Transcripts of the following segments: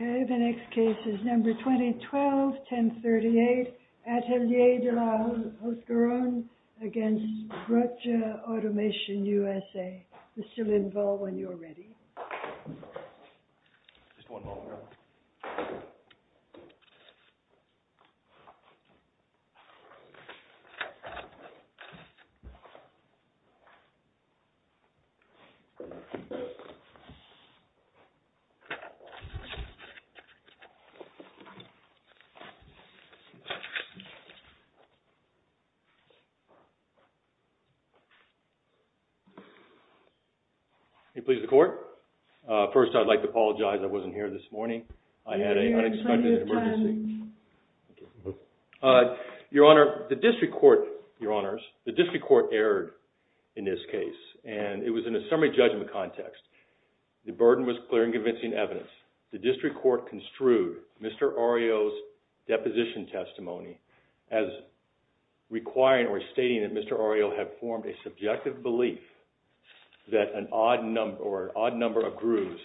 Okay, the next case is number 2012-1038, Atelier de la Hoscarone against Brugge Automation USA. Mr. Lindvall, when you're ready. First, I'd like to apologize. I wasn't here this morning. I had an unexpected emergency. Your Honor, the District Court, Your Honors, the District Court erred in this case, and it was in a summary judgment context. The burden was clear and convincing evidence. The District Court construed Mr. Aureo's deposition testimony as requiring or stating that Mr. Aureo had formed a subjective belief that an odd number of grooves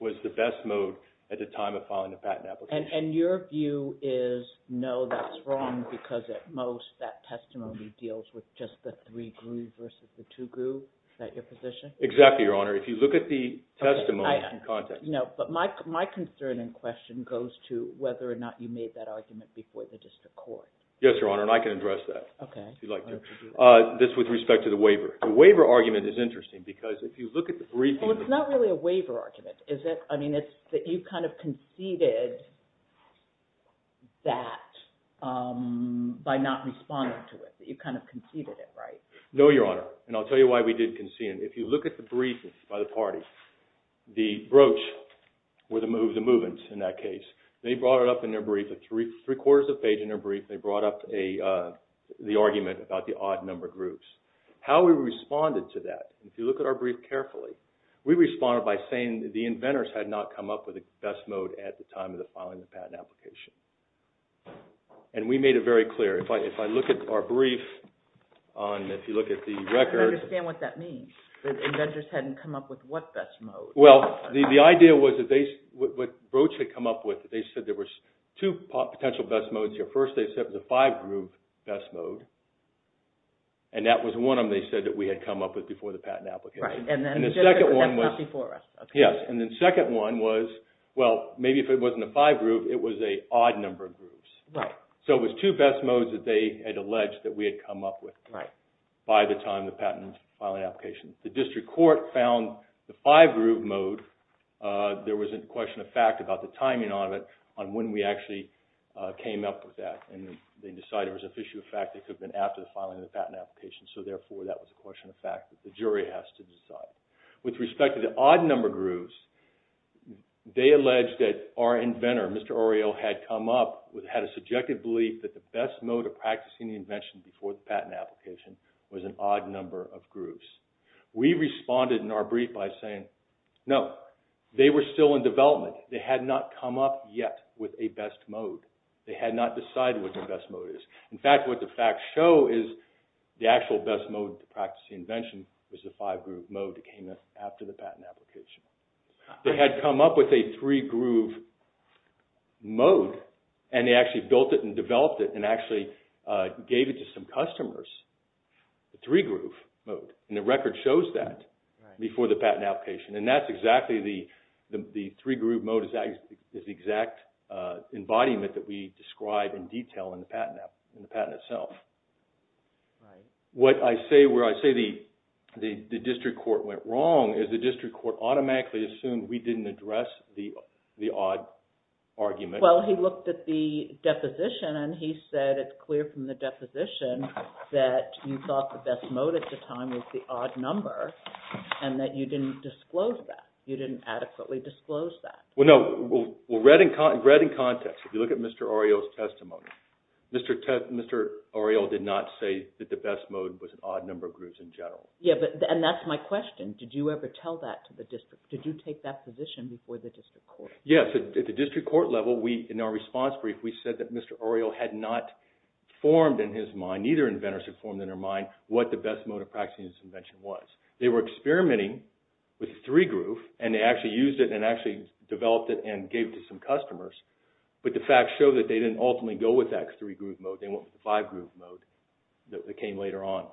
was the best mode at the time of filing the patent application. And your view is, no, that's wrong, because at most, that testimony deals with just the three grooves versus the two grooves? Is that your position? Exactly, Your Honor. If you look at the testimony in context. No, but my concern and question goes to whether or not you made that argument before the District Court. Yes, Your Honor, and I can address that. Okay. If you'd like to. Yes, Your Honor. This with respect to the waiver. The waiver argument is interesting, because if you look at the briefing. Well, it's not really a waiver argument, is it? I mean, it's that you kind of conceded that by not responding to it. That you kind of conceded it, right? No, Your Honor, and I'll tell you why we did concede. If you look at the briefings by the parties, the broach were the movements in that case. They brought it up in their brief, a three-quarters of page in their brief. They brought up the argument about the odd-numbered groups. How we responded to that, if you look at our brief carefully, we responded by saying the inventors had not come up with a best mode at the time of the filing of the patent application. And we made it very clear. If I look at our brief on, if you look at the record. I don't understand what that means. The inventors hadn't come up with what best mode? Well, the idea was that they, what broach had come up with, they said there were two potential best modes here. First, they said it was a five-groove best mode. And that was one of them they said that we had come up with before the patent application. Right, and then just before us. Yes, and the second one was, well, maybe if it wasn't a five-groove, it was an odd-numbered group. Right. So, it was two best modes that they had alleged that we had come up with. Right. By the time of the patent filing application. The district court found the five-groove mode, there was a question of fact about the timing on it, on when we actually came up with that. And they decided it was an issue of fact that could have been after the filing of the patent application. So, therefore, that was a question of fact that the jury has to decide. With respect to the odd-numbered grooves, they alleged that our inventor, Mr. Orio, had come up with, had a subjective belief that the best mode of practicing the invention before the patent application was an odd-number of grooves. We responded in our brief by saying, no, they were still in development. They had not come up yet with a best mode. They had not decided what their best mode is. In fact, what the facts show is the actual best mode to practice the invention was the five-groove mode that came after the patent application. They had come up with a three-groove mode, and they actually built it and developed it and actually gave it to some customers, the three-groove mode. And the record shows that before the patent application. And that's exactly the three-groove mode is the exact embodiment that we describe in detail in the patent itself. What I say where I say the district court went wrong is the district court automatically assumed we didn't address the odd argument. Well, he looked at the deposition, and he said it's clear from the deposition that you thought the best mode at the time was the odd number and that you didn't disclose that. You didn't adequately disclose that. Well, no. Read in context. If you look at Mr. Oriel's testimony, Mr. Oriel did not say that the best mode was an odd number of grooves in general. Yeah, and that's my question. Did you ever tell that to the district? Did you take that position before the district court? Yes. At the district court level, in our response brief, we said that Mr. Oriel had not formed in his mind, what the best mode of practicing this invention was. They were experimenting with the three-groove, and they actually used it and actually developed it and gave it to some customers. But the facts show that they didn't ultimately go with that three-groove mode. They went with the five-groove mode that came later on.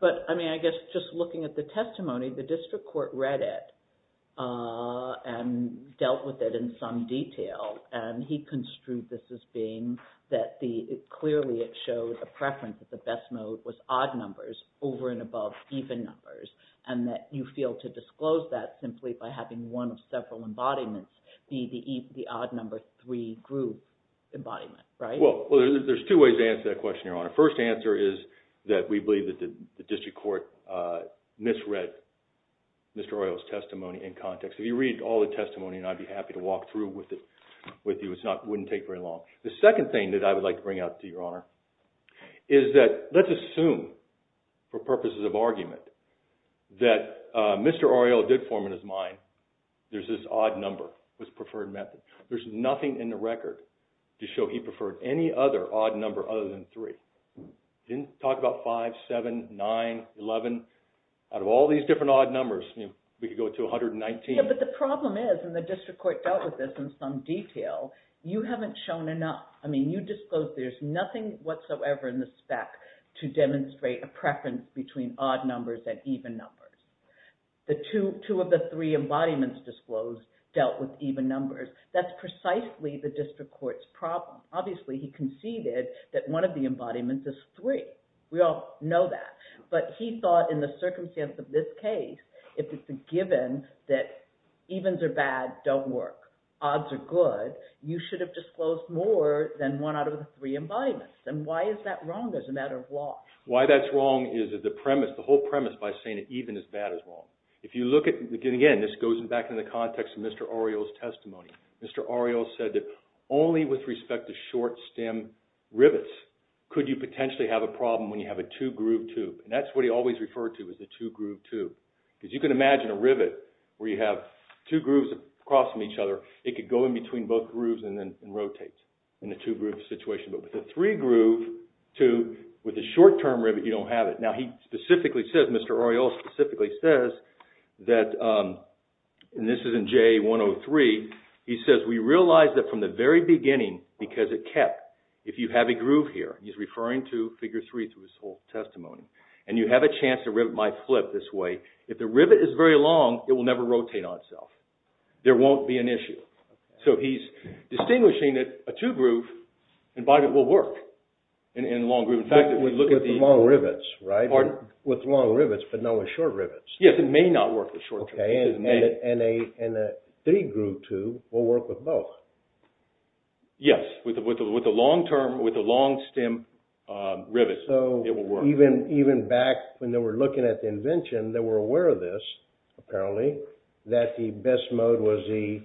But, I mean, I guess just looking at the testimony, the district court read it and dealt with it in some detail. And he construed this as being that clearly it showed a preference that the best mode was odd numbers over and above even numbers and that you failed to disclose that simply by having one of several embodiments be the odd number three-groove embodiment, right? Well, there's two ways to answer that question, Your Honor. First answer is that we believe that the district court misread Mr. Oriel's testimony in context. If you read all the testimony, I'd be happy to walk through with you. It wouldn't take very long. The second thing that I would like to bring out to you, Your Honor, is that let's assume for purposes of argument that Mr. Oriel did form in his mind there's this odd number was preferred method. There's nothing in the record to show he preferred any other odd number other than three. He didn't talk about five, seven, nine, eleven. Out of all these different odd numbers, we could go to 119. Yeah, but the problem is, and the district court dealt with this in some detail, you haven't shown enough. I mean, you disclosed there's nothing whatsoever in the spec to demonstrate a preference between odd numbers and even numbers. The two of the three embodiments disclosed dealt with even numbers. That's precisely the district court's problem. Obviously, he conceded that one of the embodiments is three. We all know that. But he thought in the circumstance of this case, if it's a given that evens are bad, don't work, odds are good, you should have disclosed more than one out of the three embodiments. And why is that wrong as a matter of law? Why that's wrong is that the premise, the whole premise by saying that even is bad is wrong. If you look at, again, this goes back to the context of Mr. Oriel's testimony. Mr. Oriel said that only with respect to short stem rivets could you potentially have a problem when you have a two-groove tube. And that's what he always referred to as the two-groove tube. Because you can imagine a rivet where you have two grooves crossing each other. It could go in between both grooves and then rotate in a two-groove situation. But with a three-groove tube, with a short-term rivet, you don't have it. Now, he specifically says, Mr. Oriel specifically says that, and this is in JA 103, he says, we realize that from the very beginning, because it kept, if you have a groove here, he's referring to Figure 3 through his whole testimony, and you have a chance a rivet might flip this way, if the rivet is very long, it will never rotate on itself. There won't be an issue. So he's distinguishing that a two-groove embodiment will work in a long groove. With long rivets, right? With long rivets, but not with short rivets. Yes, it may not work with short rivets. And a three-groove tube will work with both. Yes, with a long-stem rivet, it will work. So even back when they were looking at the invention, they were aware of this, apparently, that the best mode was the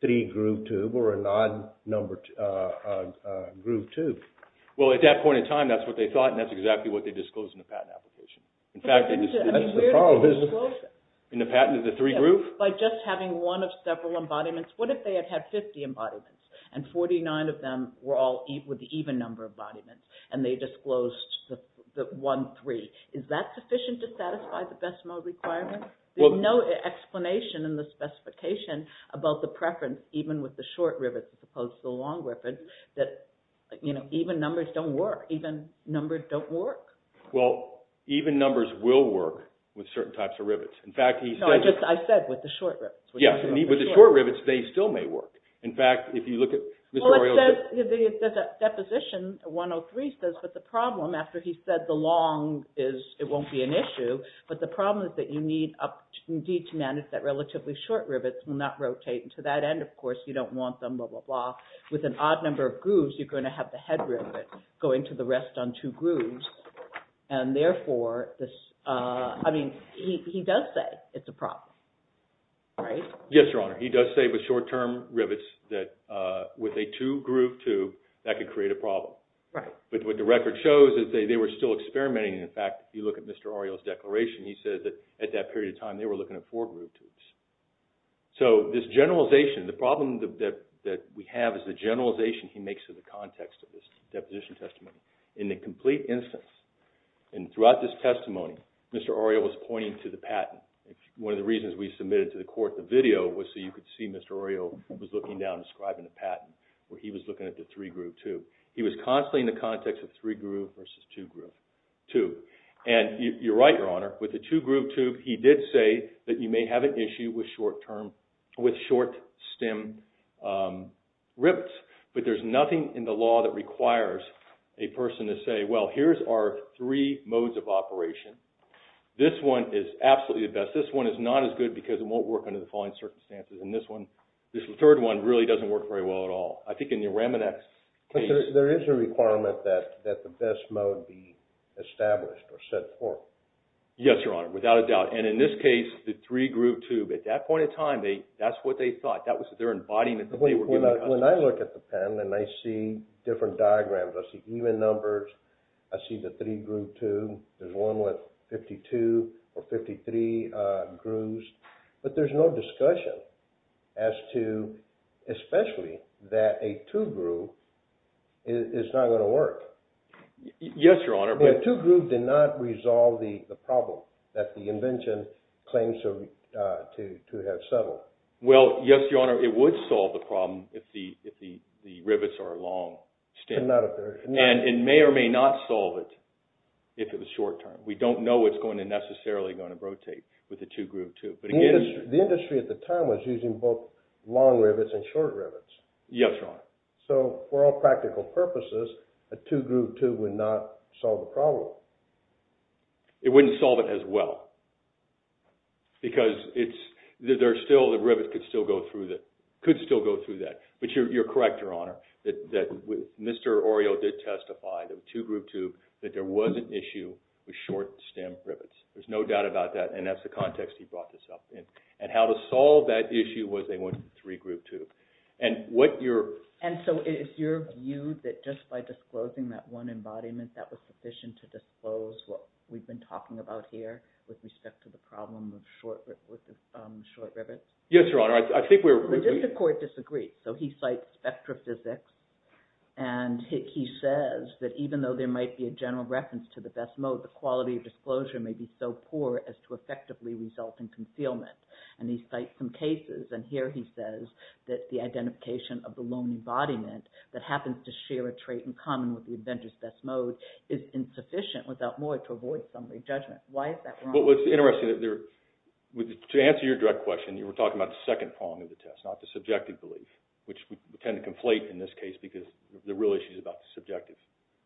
three-groove tube or an odd-numbered groove tube. Well, at that point in time, that's what they thought, and that's exactly what they disclosed in the patent application. In fact, they disclosed it in the patent of the three-groove. By just having one of several embodiments, what if they had had 50 embodiments, and 49 of them were all with the even number of embodiments, and they disclosed the one-three? Is that sufficient to satisfy the best mode requirement? There's no explanation in the specification about the preference, even with the short rivets as opposed to the long rivets, that even numbers don't work. Even numbers don't work. Well, even numbers will work with certain types of rivets. No, I said with the short rivets. Yes, with the short rivets, they still may work. In fact, if you look at Mr. O'Reilly's… Well, the deposition 103 says that the problem, after he said the long won't be an issue, but the problem is that you need to manage that relatively short rivets will not rotate. And to that end, of course, you don't want them, blah, blah, blah. With an odd number of grooves, you're going to have the head rivet going to the rest on two grooves. And therefore, I mean, he does say it's a problem, right? Yes, Your Honor. He does say with short-term rivets that with a two-groove tube, that could create a problem. Right. But what the record shows is they were still experimenting. In fact, if you look at Mr. O'Reilly's declaration, he said that at that period of time, they were looking at four-groove tubes. So this generalization, the problem that we have is the generalization he makes to the context of this deposition testimony. In the complete instance, and throughout this testimony, Mr. O'Reilly was pointing to the patent. One of the reasons we submitted to the court the video was so you could see Mr. O'Reilly was looking down, describing the patent, where he was looking at the three-groove tube. He was constantly in the context of three-groove versus two-groove tube. And you're right, Your Honor. With the two-groove tube, he did say that you may have an issue with short-term, with short-stem rivets. But there's nothing in the law that requires a person to say, well, here's our three modes of operation. This one is absolutely the best. This one is not as good because it won't work under the following circumstances. And this one, this third one, really doesn't work very well at all. I think in the Ramonex case— There is a requirement that the best mode be established or set forth. Yes, Your Honor, without a doubt. And in this case, the three-groove tube, at that point in time, that's what they thought. That was their embodiment. When I look at the pen and I see different diagrams, I see even numbers, I see the three-groove tube. There's one with 52 or 53 grooves. But there's no discussion as to—especially that a two-groove is not going to work. Yes, Your Honor, but— The two-groove did not resolve the problem that the invention claims to have settled. Well, yes, Your Honor, it would solve the problem if the rivets are long-stem. And may or may not solve it if it was short-term. We don't know what's necessarily going to rotate with the two-groove tube. The industry at the time was using both long rivets and short rivets. Yes, Your Honor. So, for all practical purposes, a two-groove tube would not solve the problem. It wouldn't solve it as well. Because the rivets could still go through that. But you're correct, Your Honor, that Mr. Orio did testify, the two-groove tube, that there was an issue with short-stem rivets. There's no doubt about that, and that's the context he brought this up in. And how to solve that issue was they went with the three-groove tube. And what your— And so is your view that just by disclosing that one embodiment, that was sufficient to disclose what we've been talking about here with respect to the problem with the short rivets? Yes, Your Honor, I think we're— The court disagreed. So he cites spectrophysics, and he says that even though there might be a general reference to the best mode, the quality of disclosure may be so poor as to effectively result in concealment. And he cites some cases, and here he says that the identification of the lone embodiment that happens to share a trait in common with the Avengers' best mode is insufficient, without more, to avoid summary judgment. Why is that wrong? Well, it's interesting that there— To answer your direct question, you were talking about the second prong of the test, not the subjective belief, which we tend to conflate in this case because the real issue is about the subjective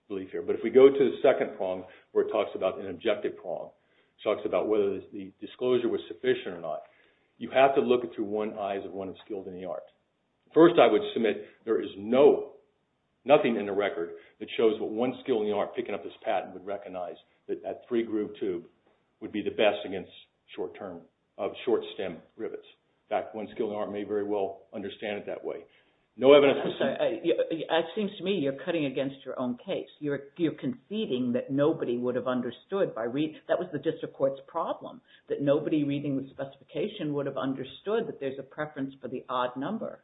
belief here. But if we go to the second prong where it talks about an objective prong, it talks about whether the disclosure was sufficient or not, you have to look it through one eye as one of skills in the art. would be the best against short-term—short-stem rivets. In fact, one skill in the art may very well understand it that way. No evidence— I'm sorry. It seems to me you're cutting against your own case. You're conceding that nobody would have understood by—that was the district court's problem, that nobody reading the specification would have understood that there's a preference for the odd number.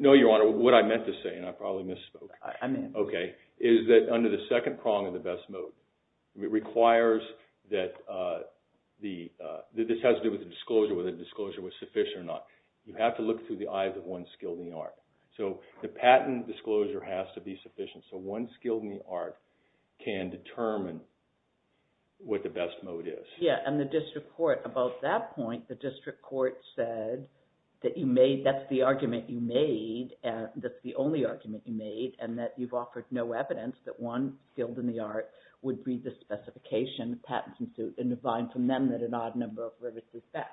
No, Your Honor. What I meant to say, and I probably misspoke— I'm in. Okay, is that under the second prong of the best mode, it requires that the—this has to do with the disclosure, whether the disclosure was sufficient or not. You have to look through the eyes of one skill in the art. So the patent disclosure has to be sufficient so one skill in the art can determine what the best mode is. Yeah, and the district court—about that point, the district court said that you made—that's the argument you made. That's the only argument you made, and that you've offered no evidence that one skill in the art would read the specification, patents, and divine from them that an odd number of rivets is best.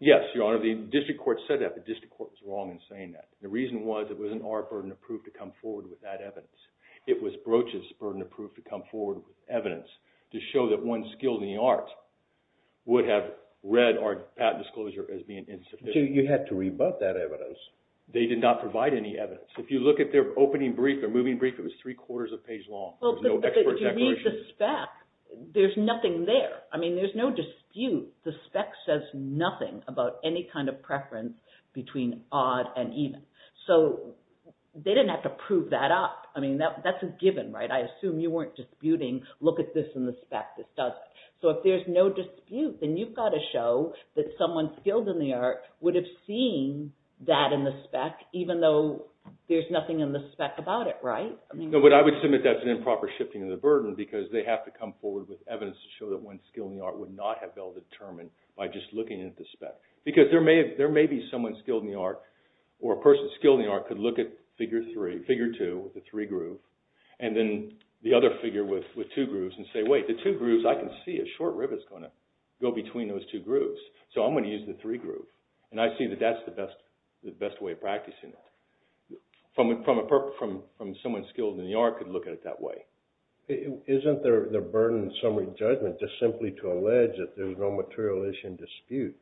Yes, Your Honor. The district court said that, but the district court was wrong in saying that. The reason was it wasn't our burden of proof to come forward with that evidence. It was Broach's burden of proof to come forward with evidence to show that one skill in the art would have read our patent disclosure as being insufficient. So you had to rebut that evidence. They did not provide any evidence. If you look at their opening brief, their moving brief, it was three-quarters of a page long. There was no expert declaration. But if you read the spec, there's nothing there. I mean, there's no dispute. The spec says nothing about any kind of preference between odd and even. So they didn't have to prove that up. I mean, that's a given, right? I assume you weren't disputing, look at this in the spec. This doesn't. So if there's no dispute, then you've got to show that someone skilled in the art would have seen that in the spec, even though there's nothing in the spec about it, right? No, but I would submit that's an improper shifting of the burden because they have to come forward with evidence to show that one skill in the art would not have been determined by just looking at the spec. Because there may be someone skilled in the art or a person skilled in the art could look at figure two with a three groove and then the other figure with two grooves and say, wait, the two grooves, I can see a short rib is going to go between those two grooves. So I'm going to use the three groove. And I see that that's the best way of practicing it from someone skilled in the art could look at it that way. Isn't the burden summary judgment just simply to allege that there's no material issue in dispute?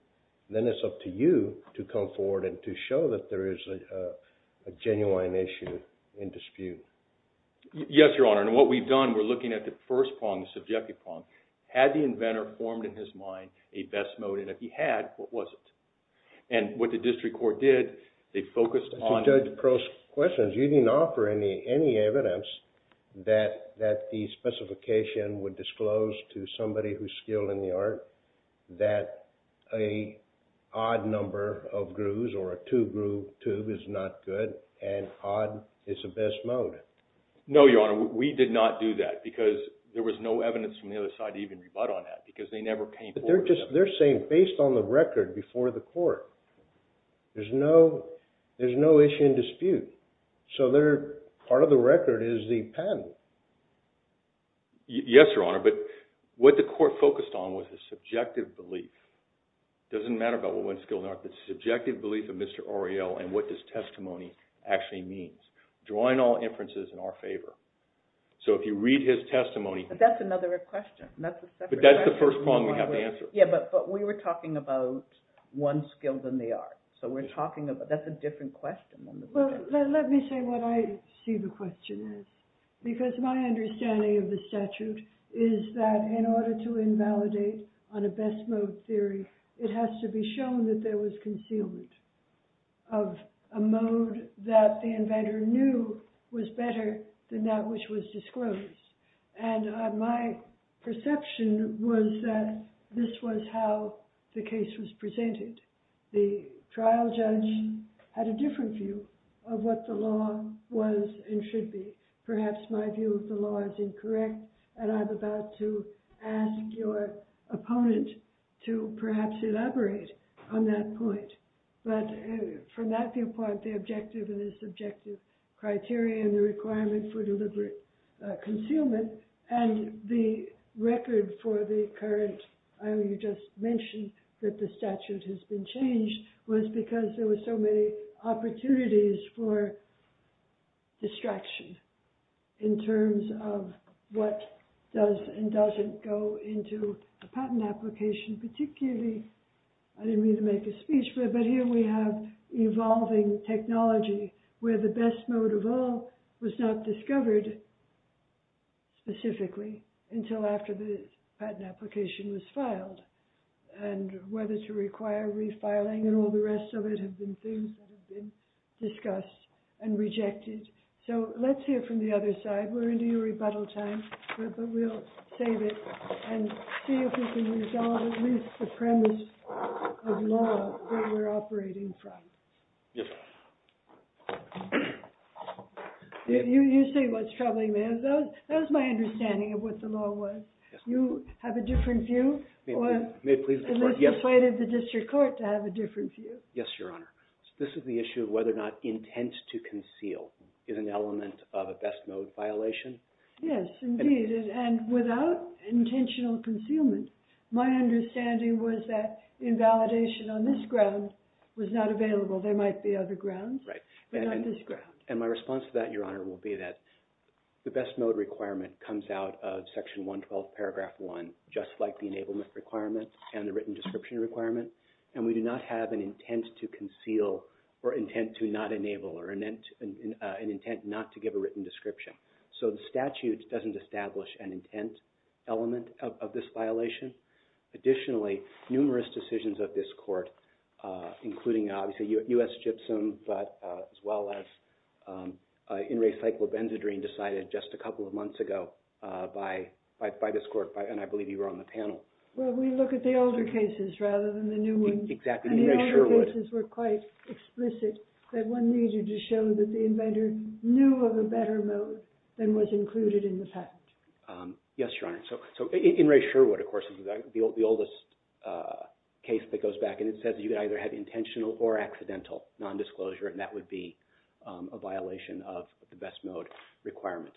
Then it's up to you to come forward and to show that there is a genuine issue in dispute. Yes, Your Honor. And what we've done, we're looking at the first prong, the subjective prong. Had the inventor formed in his mind a best mode? And if he had, what was it? And what the district court did, they focused on… Judge Pearl's question is you didn't offer any evidence that the specification would disclose to somebody who's skilled in the art that a odd number of grooves or a two groove tube is not good and odd is the best mode. No, Your Honor. We did not do that because there was no evidence from the other side to even rebut on that because they never came forward with evidence. They're saying based on the record before the court, there's no issue in dispute. So part of the record is the patent. Yes, Your Honor. But what the court focused on was the subjective belief. It doesn't matter about what one's skilled in the art. The subjective belief of Mr. Oriel and what his testimony actually means. Drawing all inferences in our favor. So if you read his testimony… But that's another question. But that's the first one we have to answer. Yeah, but we were talking about one's skilled in the art. So we're talking about – that's a different question. Well, let me say what I see the question as. Because my understanding of the statute is that in order to invalidate on a best mode theory, it has to be shown that there was concealment of a mode that the inventor knew was better than that which was disclosed. And my perception was that this was how the case was presented. The trial judge had a different view of what the law was and should be. Perhaps my view of the law is incorrect. And I'm about to ask your opponent to perhaps elaborate on that point. But from that viewpoint, the objective and the subjective criteria and the requirement for deliberate concealment and the record for the current – you just mentioned that the statute has been changed was because there were so many opportunities for distraction in terms of what does and doesn't go into a patent application. Particularly – I didn't mean to make a speech, but here we have evolving technology where the best mode of all was not discovered specifically until after the patent application was filed. And whether to require refiling and all the rest of it have been things that have been discussed and rejected. So let's hear from the other side. We're into your rebuttal time, but we'll save it and see if we can resolve at least the premise of law that we're operating from. Yes. You say what's troubling me. That was my understanding of what the law was. You have a different view? May it please the court, yes. Or let's wait for the district court to have a different view. Yes, Your Honor. This is the issue of whether or not intent to conceal is an element of a best mode violation. Yes, indeed. And without intentional concealment, my understanding was that invalidation on this ground was not available. There might be other grounds. Right. But not this ground. And my response to that, Your Honor, will be that the best mode requirement comes out of Section 112, Paragraph 1, just like the enablement requirement and the written description requirement. And we do not have an intent to conceal or intent to not enable or an intent not to give a written description. So the statute doesn't establish an intent element of this violation. Additionally, numerous decisions of this court, including obviously U.S. Gypsum, but as well as In Re Cyclo Benzedrine, decided just a couple of months ago by this court, and I believe you were on the panel. Well, we look at the older cases rather than the new ones. Exactly. And the older cases were quite explicit that one needed to show that the inventor knew of a better mode than was included in the patent. Yes, Your Honor. So In Re Sherwood, of course, is the oldest case that goes back, and it says you can either have intentional or accidental nondisclosure, and that would be a violation of the best mode requirement.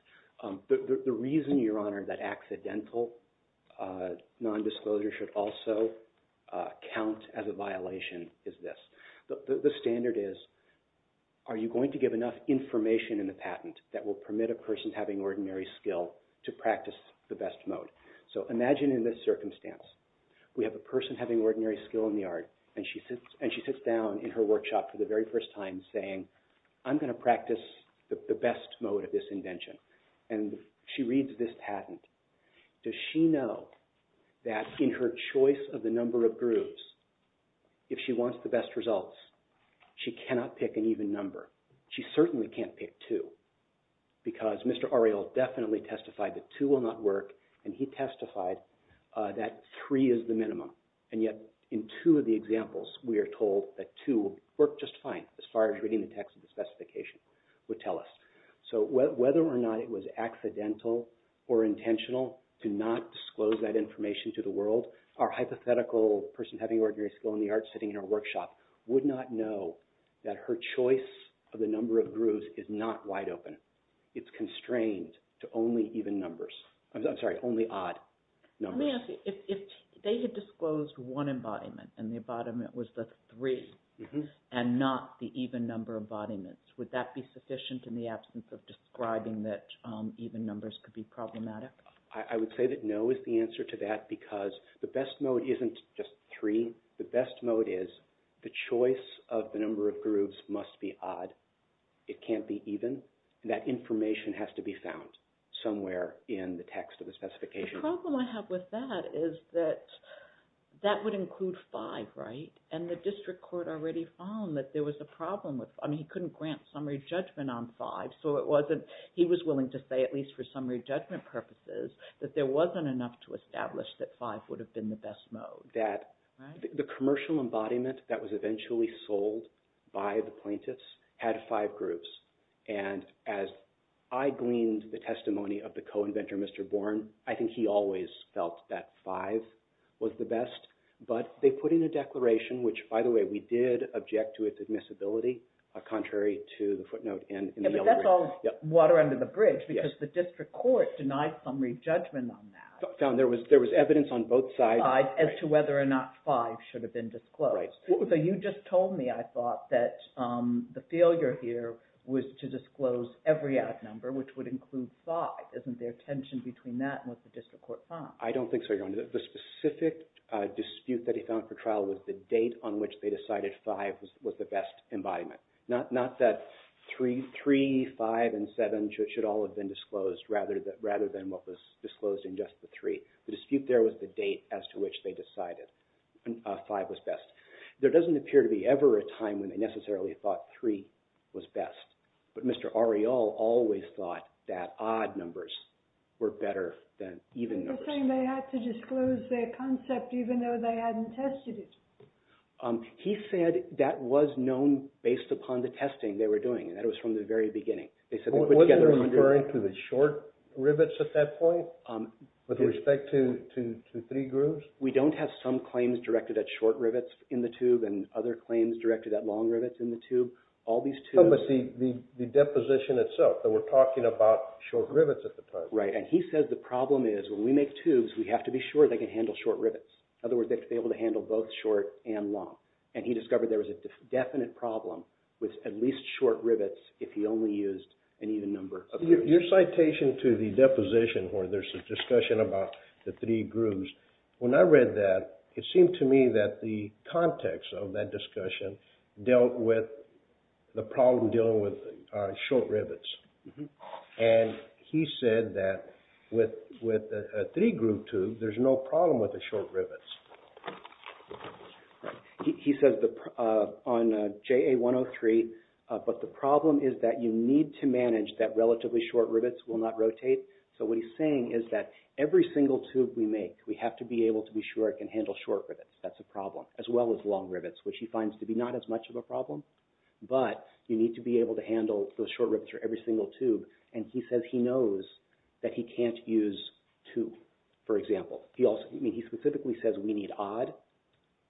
The reason, Your Honor, that accidental nondisclosure should also count as a violation is this. The standard is, are you going to give enough information in the patent that will permit a person having ordinary skill to practice the best mode? So imagine in this circumstance, we have a person having ordinary skill in the art, and she sits down in her workshop for the very first time saying, I'm going to practice the best mode of this invention. And she reads this patent. Does she know that in her choice of the number of grooves, if she wants the best results, she cannot pick an even number? She certainly can't pick two, because Mr. Ariel definitely testified that two will not work, and he testified that three is the minimum. And yet, in two of the examples, we are told that two worked just fine as far as reading the text of the specification would tell us. So whether or not it was accidental or intentional to not disclose that information to the world, our hypothetical person having ordinary skill in the art sitting in her workshop would not know that her choice of the number of grooves is not wide open. It's constrained to only even numbers. I'm sorry, only odd numbers. Let me ask you, if they had disclosed one embodiment, and the embodiment was the three, and not the even number of embodiments, would that be sufficient in the absence of describing that even numbers could be problematic? I would say that no is the answer to that, because the best mode isn't just three. The best mode is the choice of the number of grooves must be odd. It can't be even. That information has to be found somewhere in the text of the specification. The problem I have with that is that that would include five, right? And the district court already found that there was a problem. I mean, he couldn't grant summary judgment on five, so he was willing to say, at least for summary judgment purposes, that there wasn't enough to establish that five would have been the best mode. The commercial embodiment that was eventually sold by the plaintiffs had five grooves. And as I gleaned the testimony of the co-inventor, Mr. Bourne, I think he always felt that five was the best. But they put in a declaration, which, by the way, we did object to its admissibility, contrary to the footnote. That's all water under the bridge, because the district court denied summary judgment on that. I found there was evidence on both sides as to whether or not five should have been disclosed. So you just told me, I thought, that the failure here was to disclose every ad number, which would include five. Isn't there tension between that and what the district court found? I don't think so, Your Honor. The specific dispute that he found for trial was the date on which they decided five was the best embodiment. Not that three, five, and seven should all have been disclosed, rather than what was disclosed in just the three. The dispute there was the date as to which they decided five was best. There doesn't appear to be ever a time when they necessarily thought three was best. But Mr. Areol always thought that odd numbers were better than even numbers. You're saying they had to disclose their concept even though they hadn't tested it. He said that was known based upon the testing they were doing, and that was from the very beginning. Wasn't it referring to the short rivets at that point with respect to three grooves? We don't have some claims directed at short rivets in the tube and other claims directed at long rivets in the tube. But the deposition itself, we're talking about short rivets at the time. Right, and he said the problem is when we make tubes, we have to be sure they can handle short rivets. In other words, they have to be able to handle both short and long. And he discovered there was a definite problem with at least short rivets if he only used an even number of grooves. Your citation to the deposition where there's a discussion about the three grooves, when I read that, it seemed to me that the context of that discussion dealt with the problem dealing with short rivets. And he said that with a three-groove tube, there's no problem with the short rivets. He says on JA-103, but the problem is that you need to manage that relatively short rivets will not rotate. So what he's saying is that every single tube we make, we have to be able to be sure it can handle short rivets. That's a problem, as well as long rivets, which he finds to be not as much of a problem. But you need to be able to handle those short rivets for every single tube. And he says he knows that he can't use two, for example. I mean, he specifically says we need odd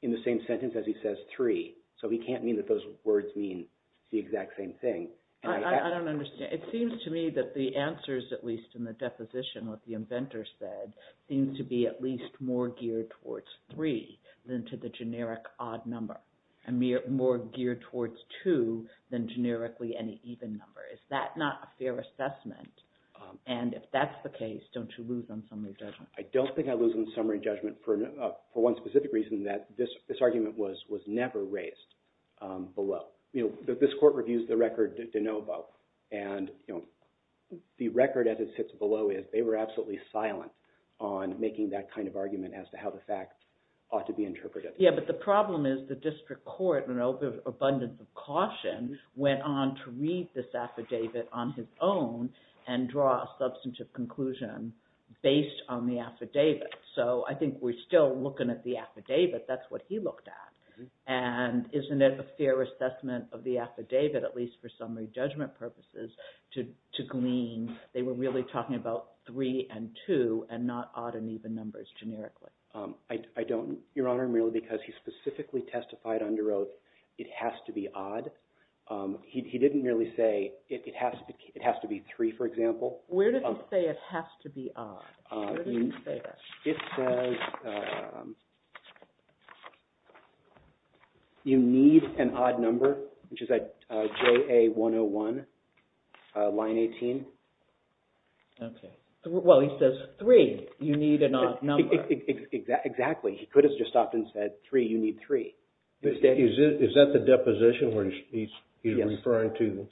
in the same sentence as he says three. So he can't mean that those words mean the exact same thing. I don't understand. It seems to me that the answers, at least in the deposition, what the inventor said, seems to be at least more geared towards three than to the generic odd number, and more geared towards two than generically any even number. Is that not a fair assessment? And if that's the case, don't you lose on summary judgment? I don't think I lose on summary judgment for one specific reason, that this argument was never raised below. This court reviews the record de novo. And the record as it sits below is they were absolutely silent on making that kind of argument as to how the facts ought to be interpreted. Yeah, but the problem is the district court, in an abundance of caution, went on to read this affidavit on his own and draw a substantive conclusion based on the affidavit. So I think we're still looking at the affidavit. That's what he looked at. And isn't it a fair assessment of the affidavit, at least for summary judgment purposes, to glean they were really talking about three and two and not odd and even numbers generically? I don't, Your Honor, merely because he specifically testified under oath it has to be odd. He didn't merely say it has to be three, for example. Where does he say it has to be odd? Where does he say that? It says you need an odd number, which is at JA 101, line 18. Okay. Well, he says three, you need an odd number. Exactly. He could have just stopped and said three, you need three. Is that the deposition where he's referring to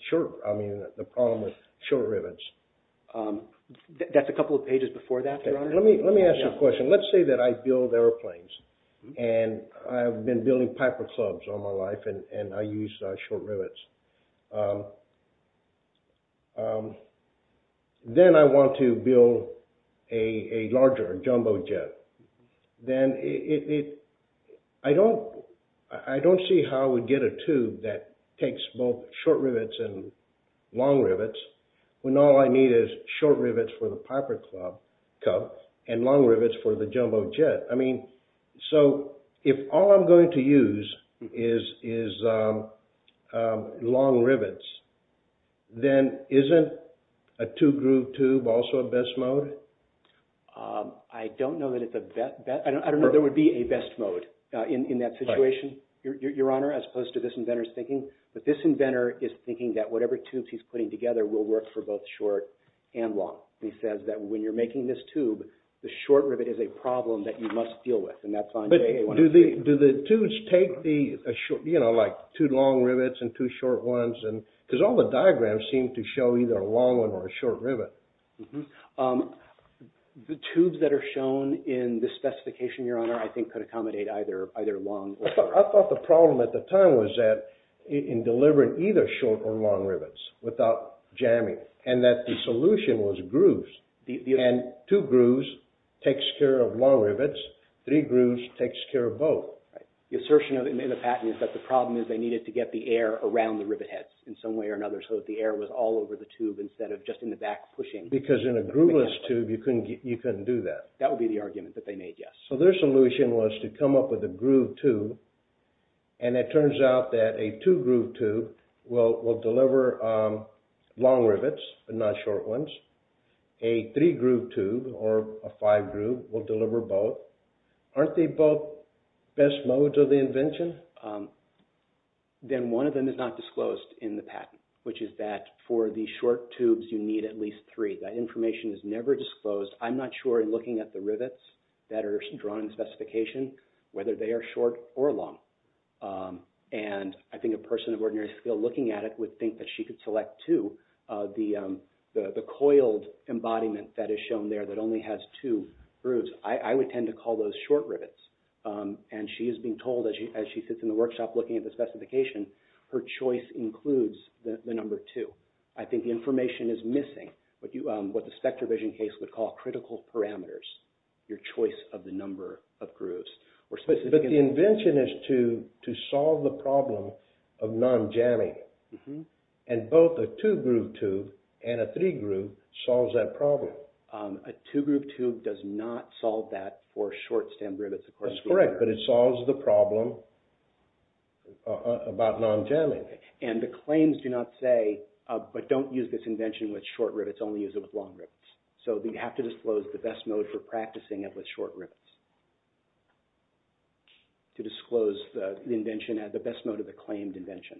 the problem with short rivets? That's a couple of pages before that, Your Honor. Let me ask you a question. Let's say that I build airplanes and I've been building Piper clubs all my life and I use short rivets. Then I want to build a larger jumbo jet. Then I don't see how I would get a tube that takes both short rivets and long rivets when all I need is short rivets for the Piper club and long rivets for the jumbo jet. So if all I'm going to use is long rivets, then isn't a two-groove tube also a best mode? I don't know that there would be a best mode in that situation, Your Honor, as opposed to this inventor's thinking. But this inventor is thinking that whatever tubes he's putting together will work for both short and long. He says that when you're making this tube, the short rivet is a problem that you must deal with. Do the tubes take two long rivets and two short ones? Because all the diagrams seem to show either a long one or a short rivet. The tubes that are shown in the specification, Your Honor, I think could accommodate either long or short. I thought the problem at the time was that in delivering either short or long rivets without jamming, and that the solution was grooves. Two grooves takes care of long rivets. Three grooves takes care of both. The assertion in the patent is that the problem is they needed to get the air around the rivet heads in some way or another so that the air was all over the tube instead of just in the back pushing. Because in a grooveless tube, you couldn't do that. That would be the argument that they made, yes. So their solution was to come up with a groove tube, and it turns out that a two-groove tube will deliver long rivets but not short ones. A three-groove tube or a five-groove will deliver both. Aren't they both best modes of the invention? Then one of them is not disclosed in the patent, which is that for the short tubes, you need at least three. That information is never disclosed. I'm not sure in looking at the rivets that are drawn in the specification whether they are short or long. And I think a person of ordinary skill looking at it would think that she could select two. The coiled embodiment that is shown there that only has two grooves, I would tend to call those short rivets. And she is being told as she sits in the workshop looking at the specification, her choice includes the number two. I think the information is missing, what the SpectraVision case would call critical parameters, your choice of the number of grooves. But the invention is to solve the problem of non-jamming, and both a two-groove tube and a three-groove solves that problem. A two-groove tube does not solve that for short stem rivets. That's correct, but it solves the problem about non-jamming. And the claims do not say, but don't use this invention with short rivets, only use it with long rivets. So we have to disclose the best mode for practicing it with short rivets to disclose the best mode of the claimed invention.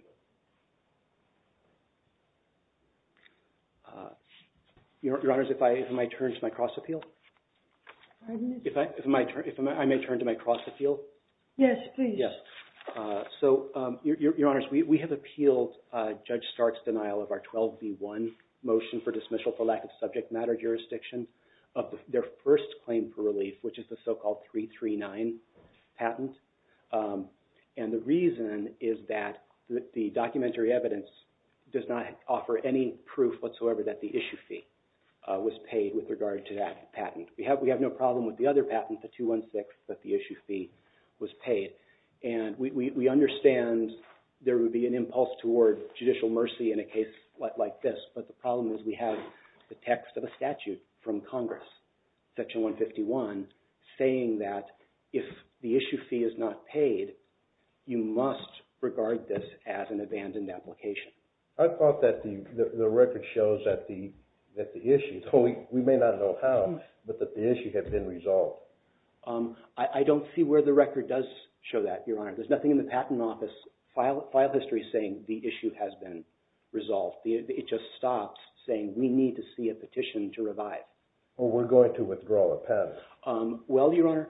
Your Honors, if I may turn to my cross-appeal? Pardon me? If I may turn to my cross-appeal? Yes, please. Yes. So, Your Honors, we have appealed Judge Stark's denial of our 12B1 motion for dismissal for lack of subject matter jurisdiction of their first claim for relief, which is the so-called 339 patent. And the reason is that the documentary evidence does not offer any proof whatsoever that the issue fee was paid with regard to that patent. We have no problem with the other patent, the 216, that the issue fee was paid. And we understand there would be an impulse toward judicial mercy in a case like this, but the problem is we have the text of a statute from Congress, Section 151, saying that if the issue fee is not paid, you must regard this as an abandoned application. I thought that the record shows that the issue, though we may not know how, but that the issue had been resolved. I don't see where the record does show that, Your Honor. There's nothing in the Patent Office file history saying the issue has been resolved. It just stops saying we need to see a petition to revive. Well, we're going to withdraw the patent. Well, Your Honor,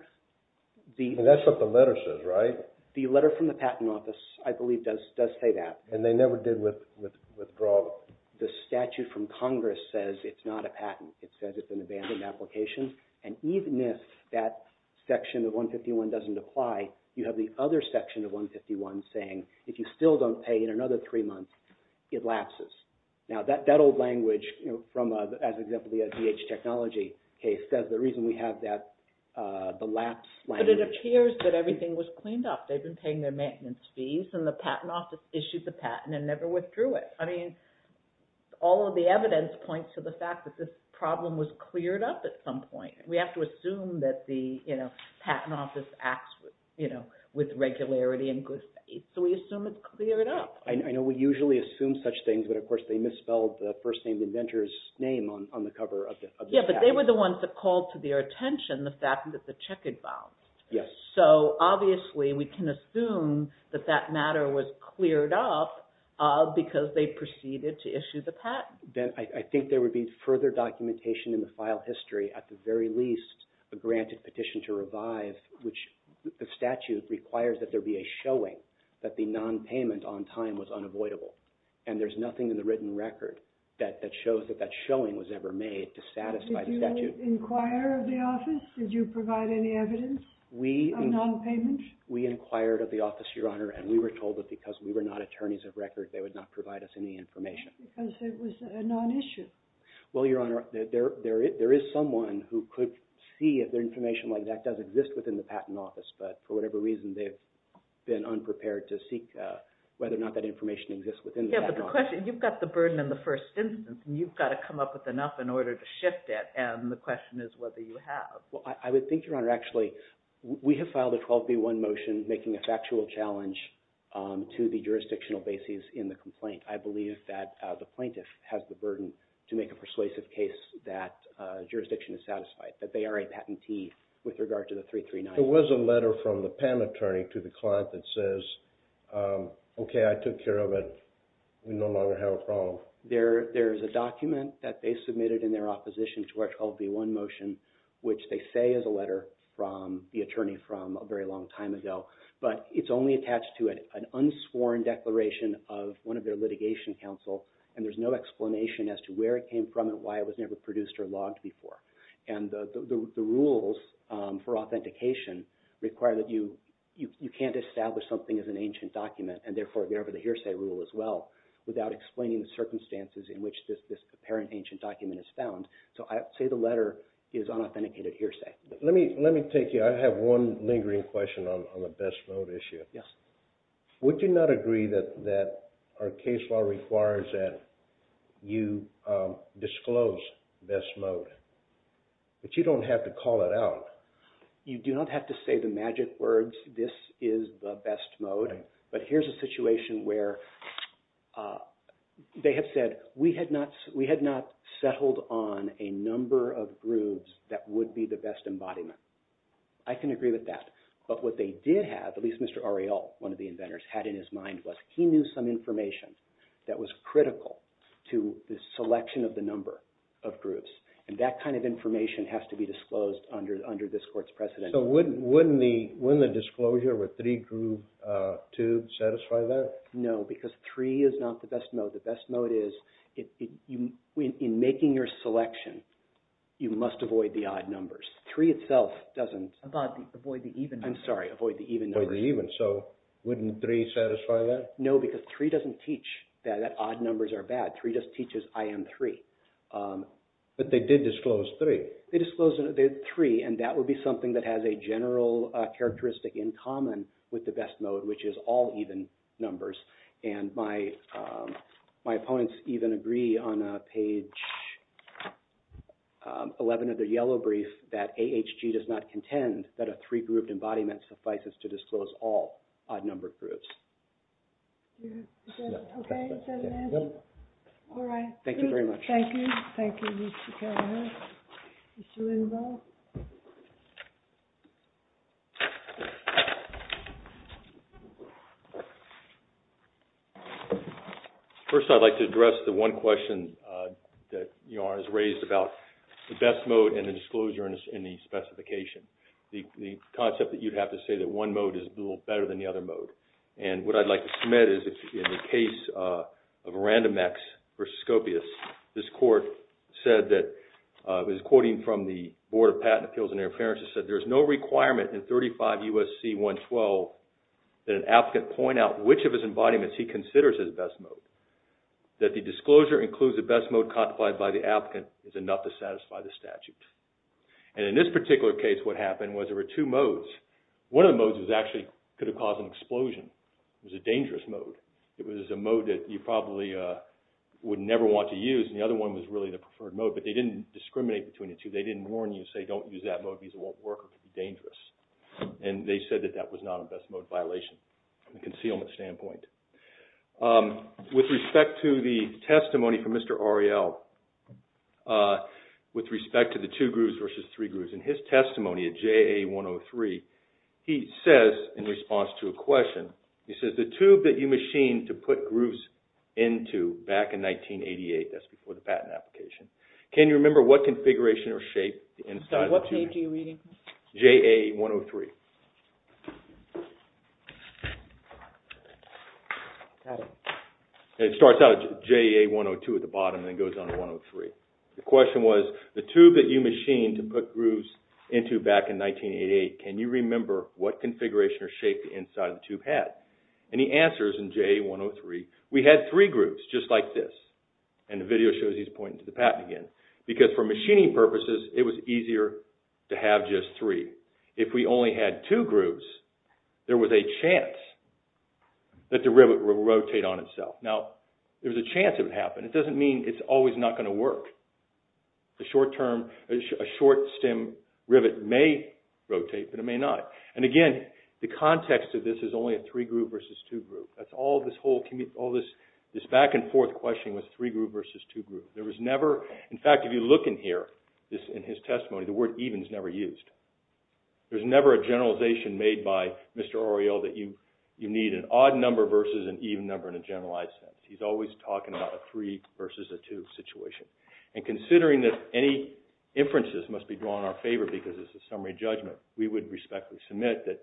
the… And that's what the letter says, right? The letter from the Patent Office, I believe, does say that. And they never did withdraw it. The statute from Congress says it's not a patent. It says it's an abandoned application. And even if that section of 151 doesn't apply, you have the other section of 151 saying, if you still don't pay in another three months, it lapses. Now, that old language from, as an example, the DH Technology case says the reason we have that, the lapse language… But it appears that everything was cleaned up. They've been paying their maintenance fees, and the Patent Office issued the patent and never withdrew it. I mean, all of the evidence points to the fact that this problem was cleared up at some point. We have to assume that the, you know, Patent Office acts, you know, with regularity and good faith. So we assume it's cleared up. I know we usually assume such things, but, of course, they misspelled the first-name inventor's name on the cover of the statute. Yeah, but they were the ones that called to their attention the fact that the check had bounced. Yes. So, obviously, we can assume that that matter was cleared up because they proceeded to issue the patent. I think there would be further documentation in the file history, at the very least, a granted petition to revive, which the statute requires that there be a showing that the nonpayment on time was unavoidable. And there's nothing in the written record that shows that that showing was ever made to satisfy the statute. Did you inquire of the office? Did you provide any evidence of nonpayment? We inquired of the office, Your Honor, and we were told that because we were not attorneys of record, they would not provide us any information. Because it was a nonissue. Well, Your Honor, there is someone who could see if the information like that does exist within the Patent Office, but for whatever reason, they've been unprepared to seek whether or not that information exists within the Patent Office. Yeah, but the question, you've got the burden in the first instance, and you've got to come up with enough in order to shift it, and the question is whether you have. Well, I would think, Your Honor, actually, we have filed a 12B1 motion making a factual challenge to the jurisdictional bases in the complaint. I believe that the plaintiff has the burden to make a persuasive case that jurisdiction is satisfied, that they are a patentee with regard to the 339. There was a letter from the PAM attorney to the client that says, okay, I took care of it. We no longer have a problem. So there is a document that they submitted in their opposition to our 12B1 motion, which they say is a letter from the attorney from a very long time ago, but it's only attached to an unsworn declaration of one of their litigation counsel, and there's no explanation as to where it came from and why it was never produced or logged before. And the rules for authentication require that you can't establish something as an ancient document, and therefore get over the hearsay rule as well without explaining the circumstances in which this apparent ancient document is found. So I'd say the letter is unauthenticated hearsay. Let me take you – I have one lingering question on the best mode issue. Yes. Would you not agree that our case law requires that you disclose best mode, that you don't have to call it out? You do not have to say the magic words, this is the best mode. But here's a situation where they have said, we had not settled on a number of groups that would be the best embodiment. I can agree with that. But what they did have, at least Mr. Ariel, one of the inventors, had in his mind was he knew some information that was critical to the selection of the number of groups, and that kind of information has to be disclosed under this court's precedent. So wouldn't the disclosure with three group two satisfy that? No, because three is not the best mode. The best mode is, in making your selection, you must avoid the odd numbers. Three itself doesn't – Avoid the even numbers. I'm sorry, avoid the even numbers. Avoid the even. So wouldn't three satisfy that? No, because three doesn't teach that odd numbers are bad. Three just teaches I am three. But they did disclose three. They disclosed three, and that would be something that has a general characteristic in common with the best mode, which is all even numbers. And my opponents even agree on page 11 of their yellow brief that AHG does not contend that a three-grouped embodiment Okay, is that an answer? Yep. All right. Thank you very much. Thank you. Thank you, Mr. Carroll. Mr. Lindvall? First, I'd like to address the one question that Yara has raised about the best mode and the disclosure in the specification, the concept that you'd have to say that one mode is a little better than the other mode. And what I'd like to submit is that in the case of Random X versus Scopius, this court said that – it was quoting from the Board of Patent Appeals and Interference – it said, There is no requirement in 35 U.S.C. 112 that an applicant point out which of his embodiments he considers his best mode. That the disclosure includes the best mode codified by the applicant is enough to satisfy the statute. And in this particular case, what happened was there were two modes. One of the modes was actually – could have caused an explosion. It was a dangerous mode. It was a mode that you probably would never want to use. And the other one was really the preferred mode. But they didn't discriminate between the two. They didn't warn you and say, Don't use that mode because it won't work or could be dangerous. And they said that that was not a best mode violation from a concealment standpoint. With respect to the testimony from Mr. Ariel, with respect to the two grooves versus three grooves, in his testimony at JA 103, he says in response to a question, he says, The tube that you machined to put grooves into back in 1988 – that's before the patent application – can you remember what configuration or shape? What shape are you reading? JA 103. And it starts out as JA 102 at the bottom and then goes on to 103. The question was, The tube that you machined to put grooves into back in 1988, can you remember what configuration or shape the inside of the tube had? And he answers in JA 103, We had three grooves, just like this. And the video shows he's pointing to the patent again. Because for machining purposes, it was easier to have just three. If we only had two grooves, there was a chance that the rivet would rotate on itself. Now, there's a chance it would happen. It doesn't mean it's always not going to work. A short-stem rivet may rotate, but it may not. And again, the context of this is only a three-groove versus two-groove. All this back-and-forth questioning was three-groove versus two-groove. There was never – In fact, if you look in here, in his testimony, the word even is never used. There's never a generalization made by Mr. Oriel that you need an odd number versus an even number in a generalized sense. He's always talking about a three versus a two situation. And considering that any inferences must be drawn in our favor because it's a summary judgment, we would respectfully submit that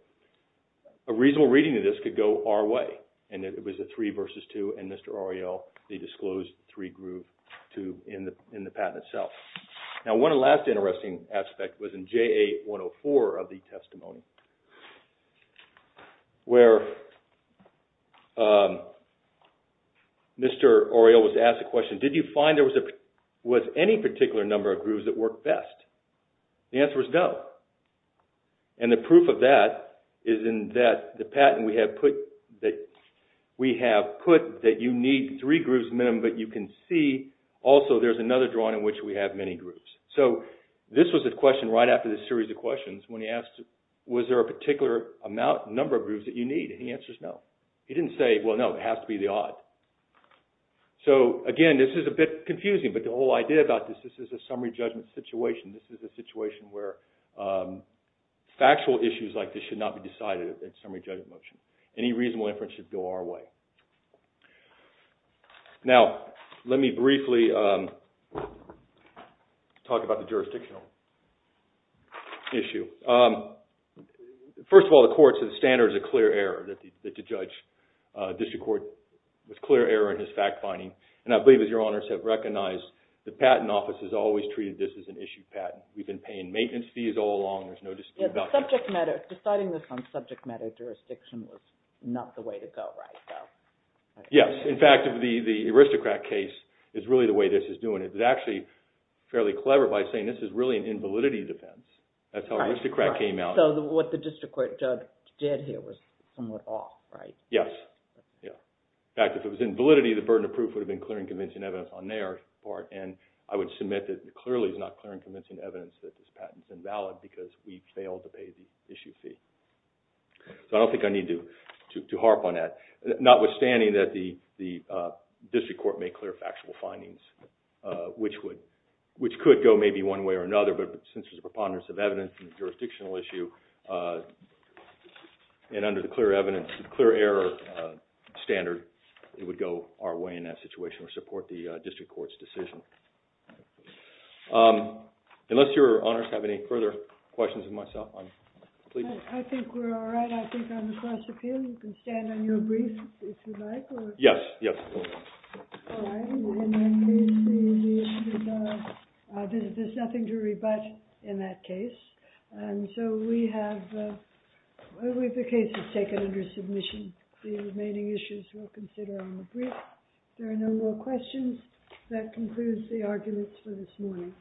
a reasonable reading of this could go our way, and that it was a three versus two, and Mr. Oriel, they disclosed three-groove tube in the patent itself. Now, one last interesting aspect was in JA-104 of the testimony, where Mr. Oriel was asked the question, did you find there was any particular number of grooves that worked best? The answer is no. And the proof of that is in that the patent we have put that you need three grooves minimum, but you can see also there's another drawing in which we have many grooves. So this was the question right after the series of questions when he asked, was there a particular number of grooves that you need? And the answer is no. He didn't say, well, no, it has to be the odd. So, again, this is a bit confusing, but the whole idea about this, this is a summary judgment situation. This is a situation where factual issues like this should not be decided in summary judgment motion. Any reasonable inference should go our way. Now, let me briefly talk about the jurisdictional issue. First of all, the court's standard is a clear error that the judge, district court, was clear error in his fact-finding. And I believe, as your honors have recognized, the Patent Office has always treated this as an issue patent. We've been paying maintenance fees all along. There's no dispute about that. Deciding this on subject matter jurisdiction was not the way to go, right? Yes. In fact, the aristocrat case is really the way this is doing it. It's actually fairly clever by saying this is really an invalidity defense. That's how aristocrat came out. So what the district court judge did here was somewhat off, right? Yes. In fact, if it was invalidity, the burden of proof would have been clearing convincing evidence on their part. And I would submit that it clearly is not clearing convincing evidence that this patent is invalid because we failed to pay the issue fee. So I don't think I need to harp on that. Notwithstanding that the district court made clear factual findings, which could go maybe one way or another, but since there's preponderance of evidence in the jurisdictional issue, and under the clear evidence, clear error standard, it would go our way in that situation or support the district court's decision. Unless your honors have any further questions of myself, please. I think we're all right. I think I'm the prosecutor. You can stand on your brief if you'd like. Yes, yes. All right. In that case, there's nothing to rebut in that case. And so we have the cases taken under submission. The remaining issues we'll consider on the brief. If there are no more questions, that concludes the arguments for this morning.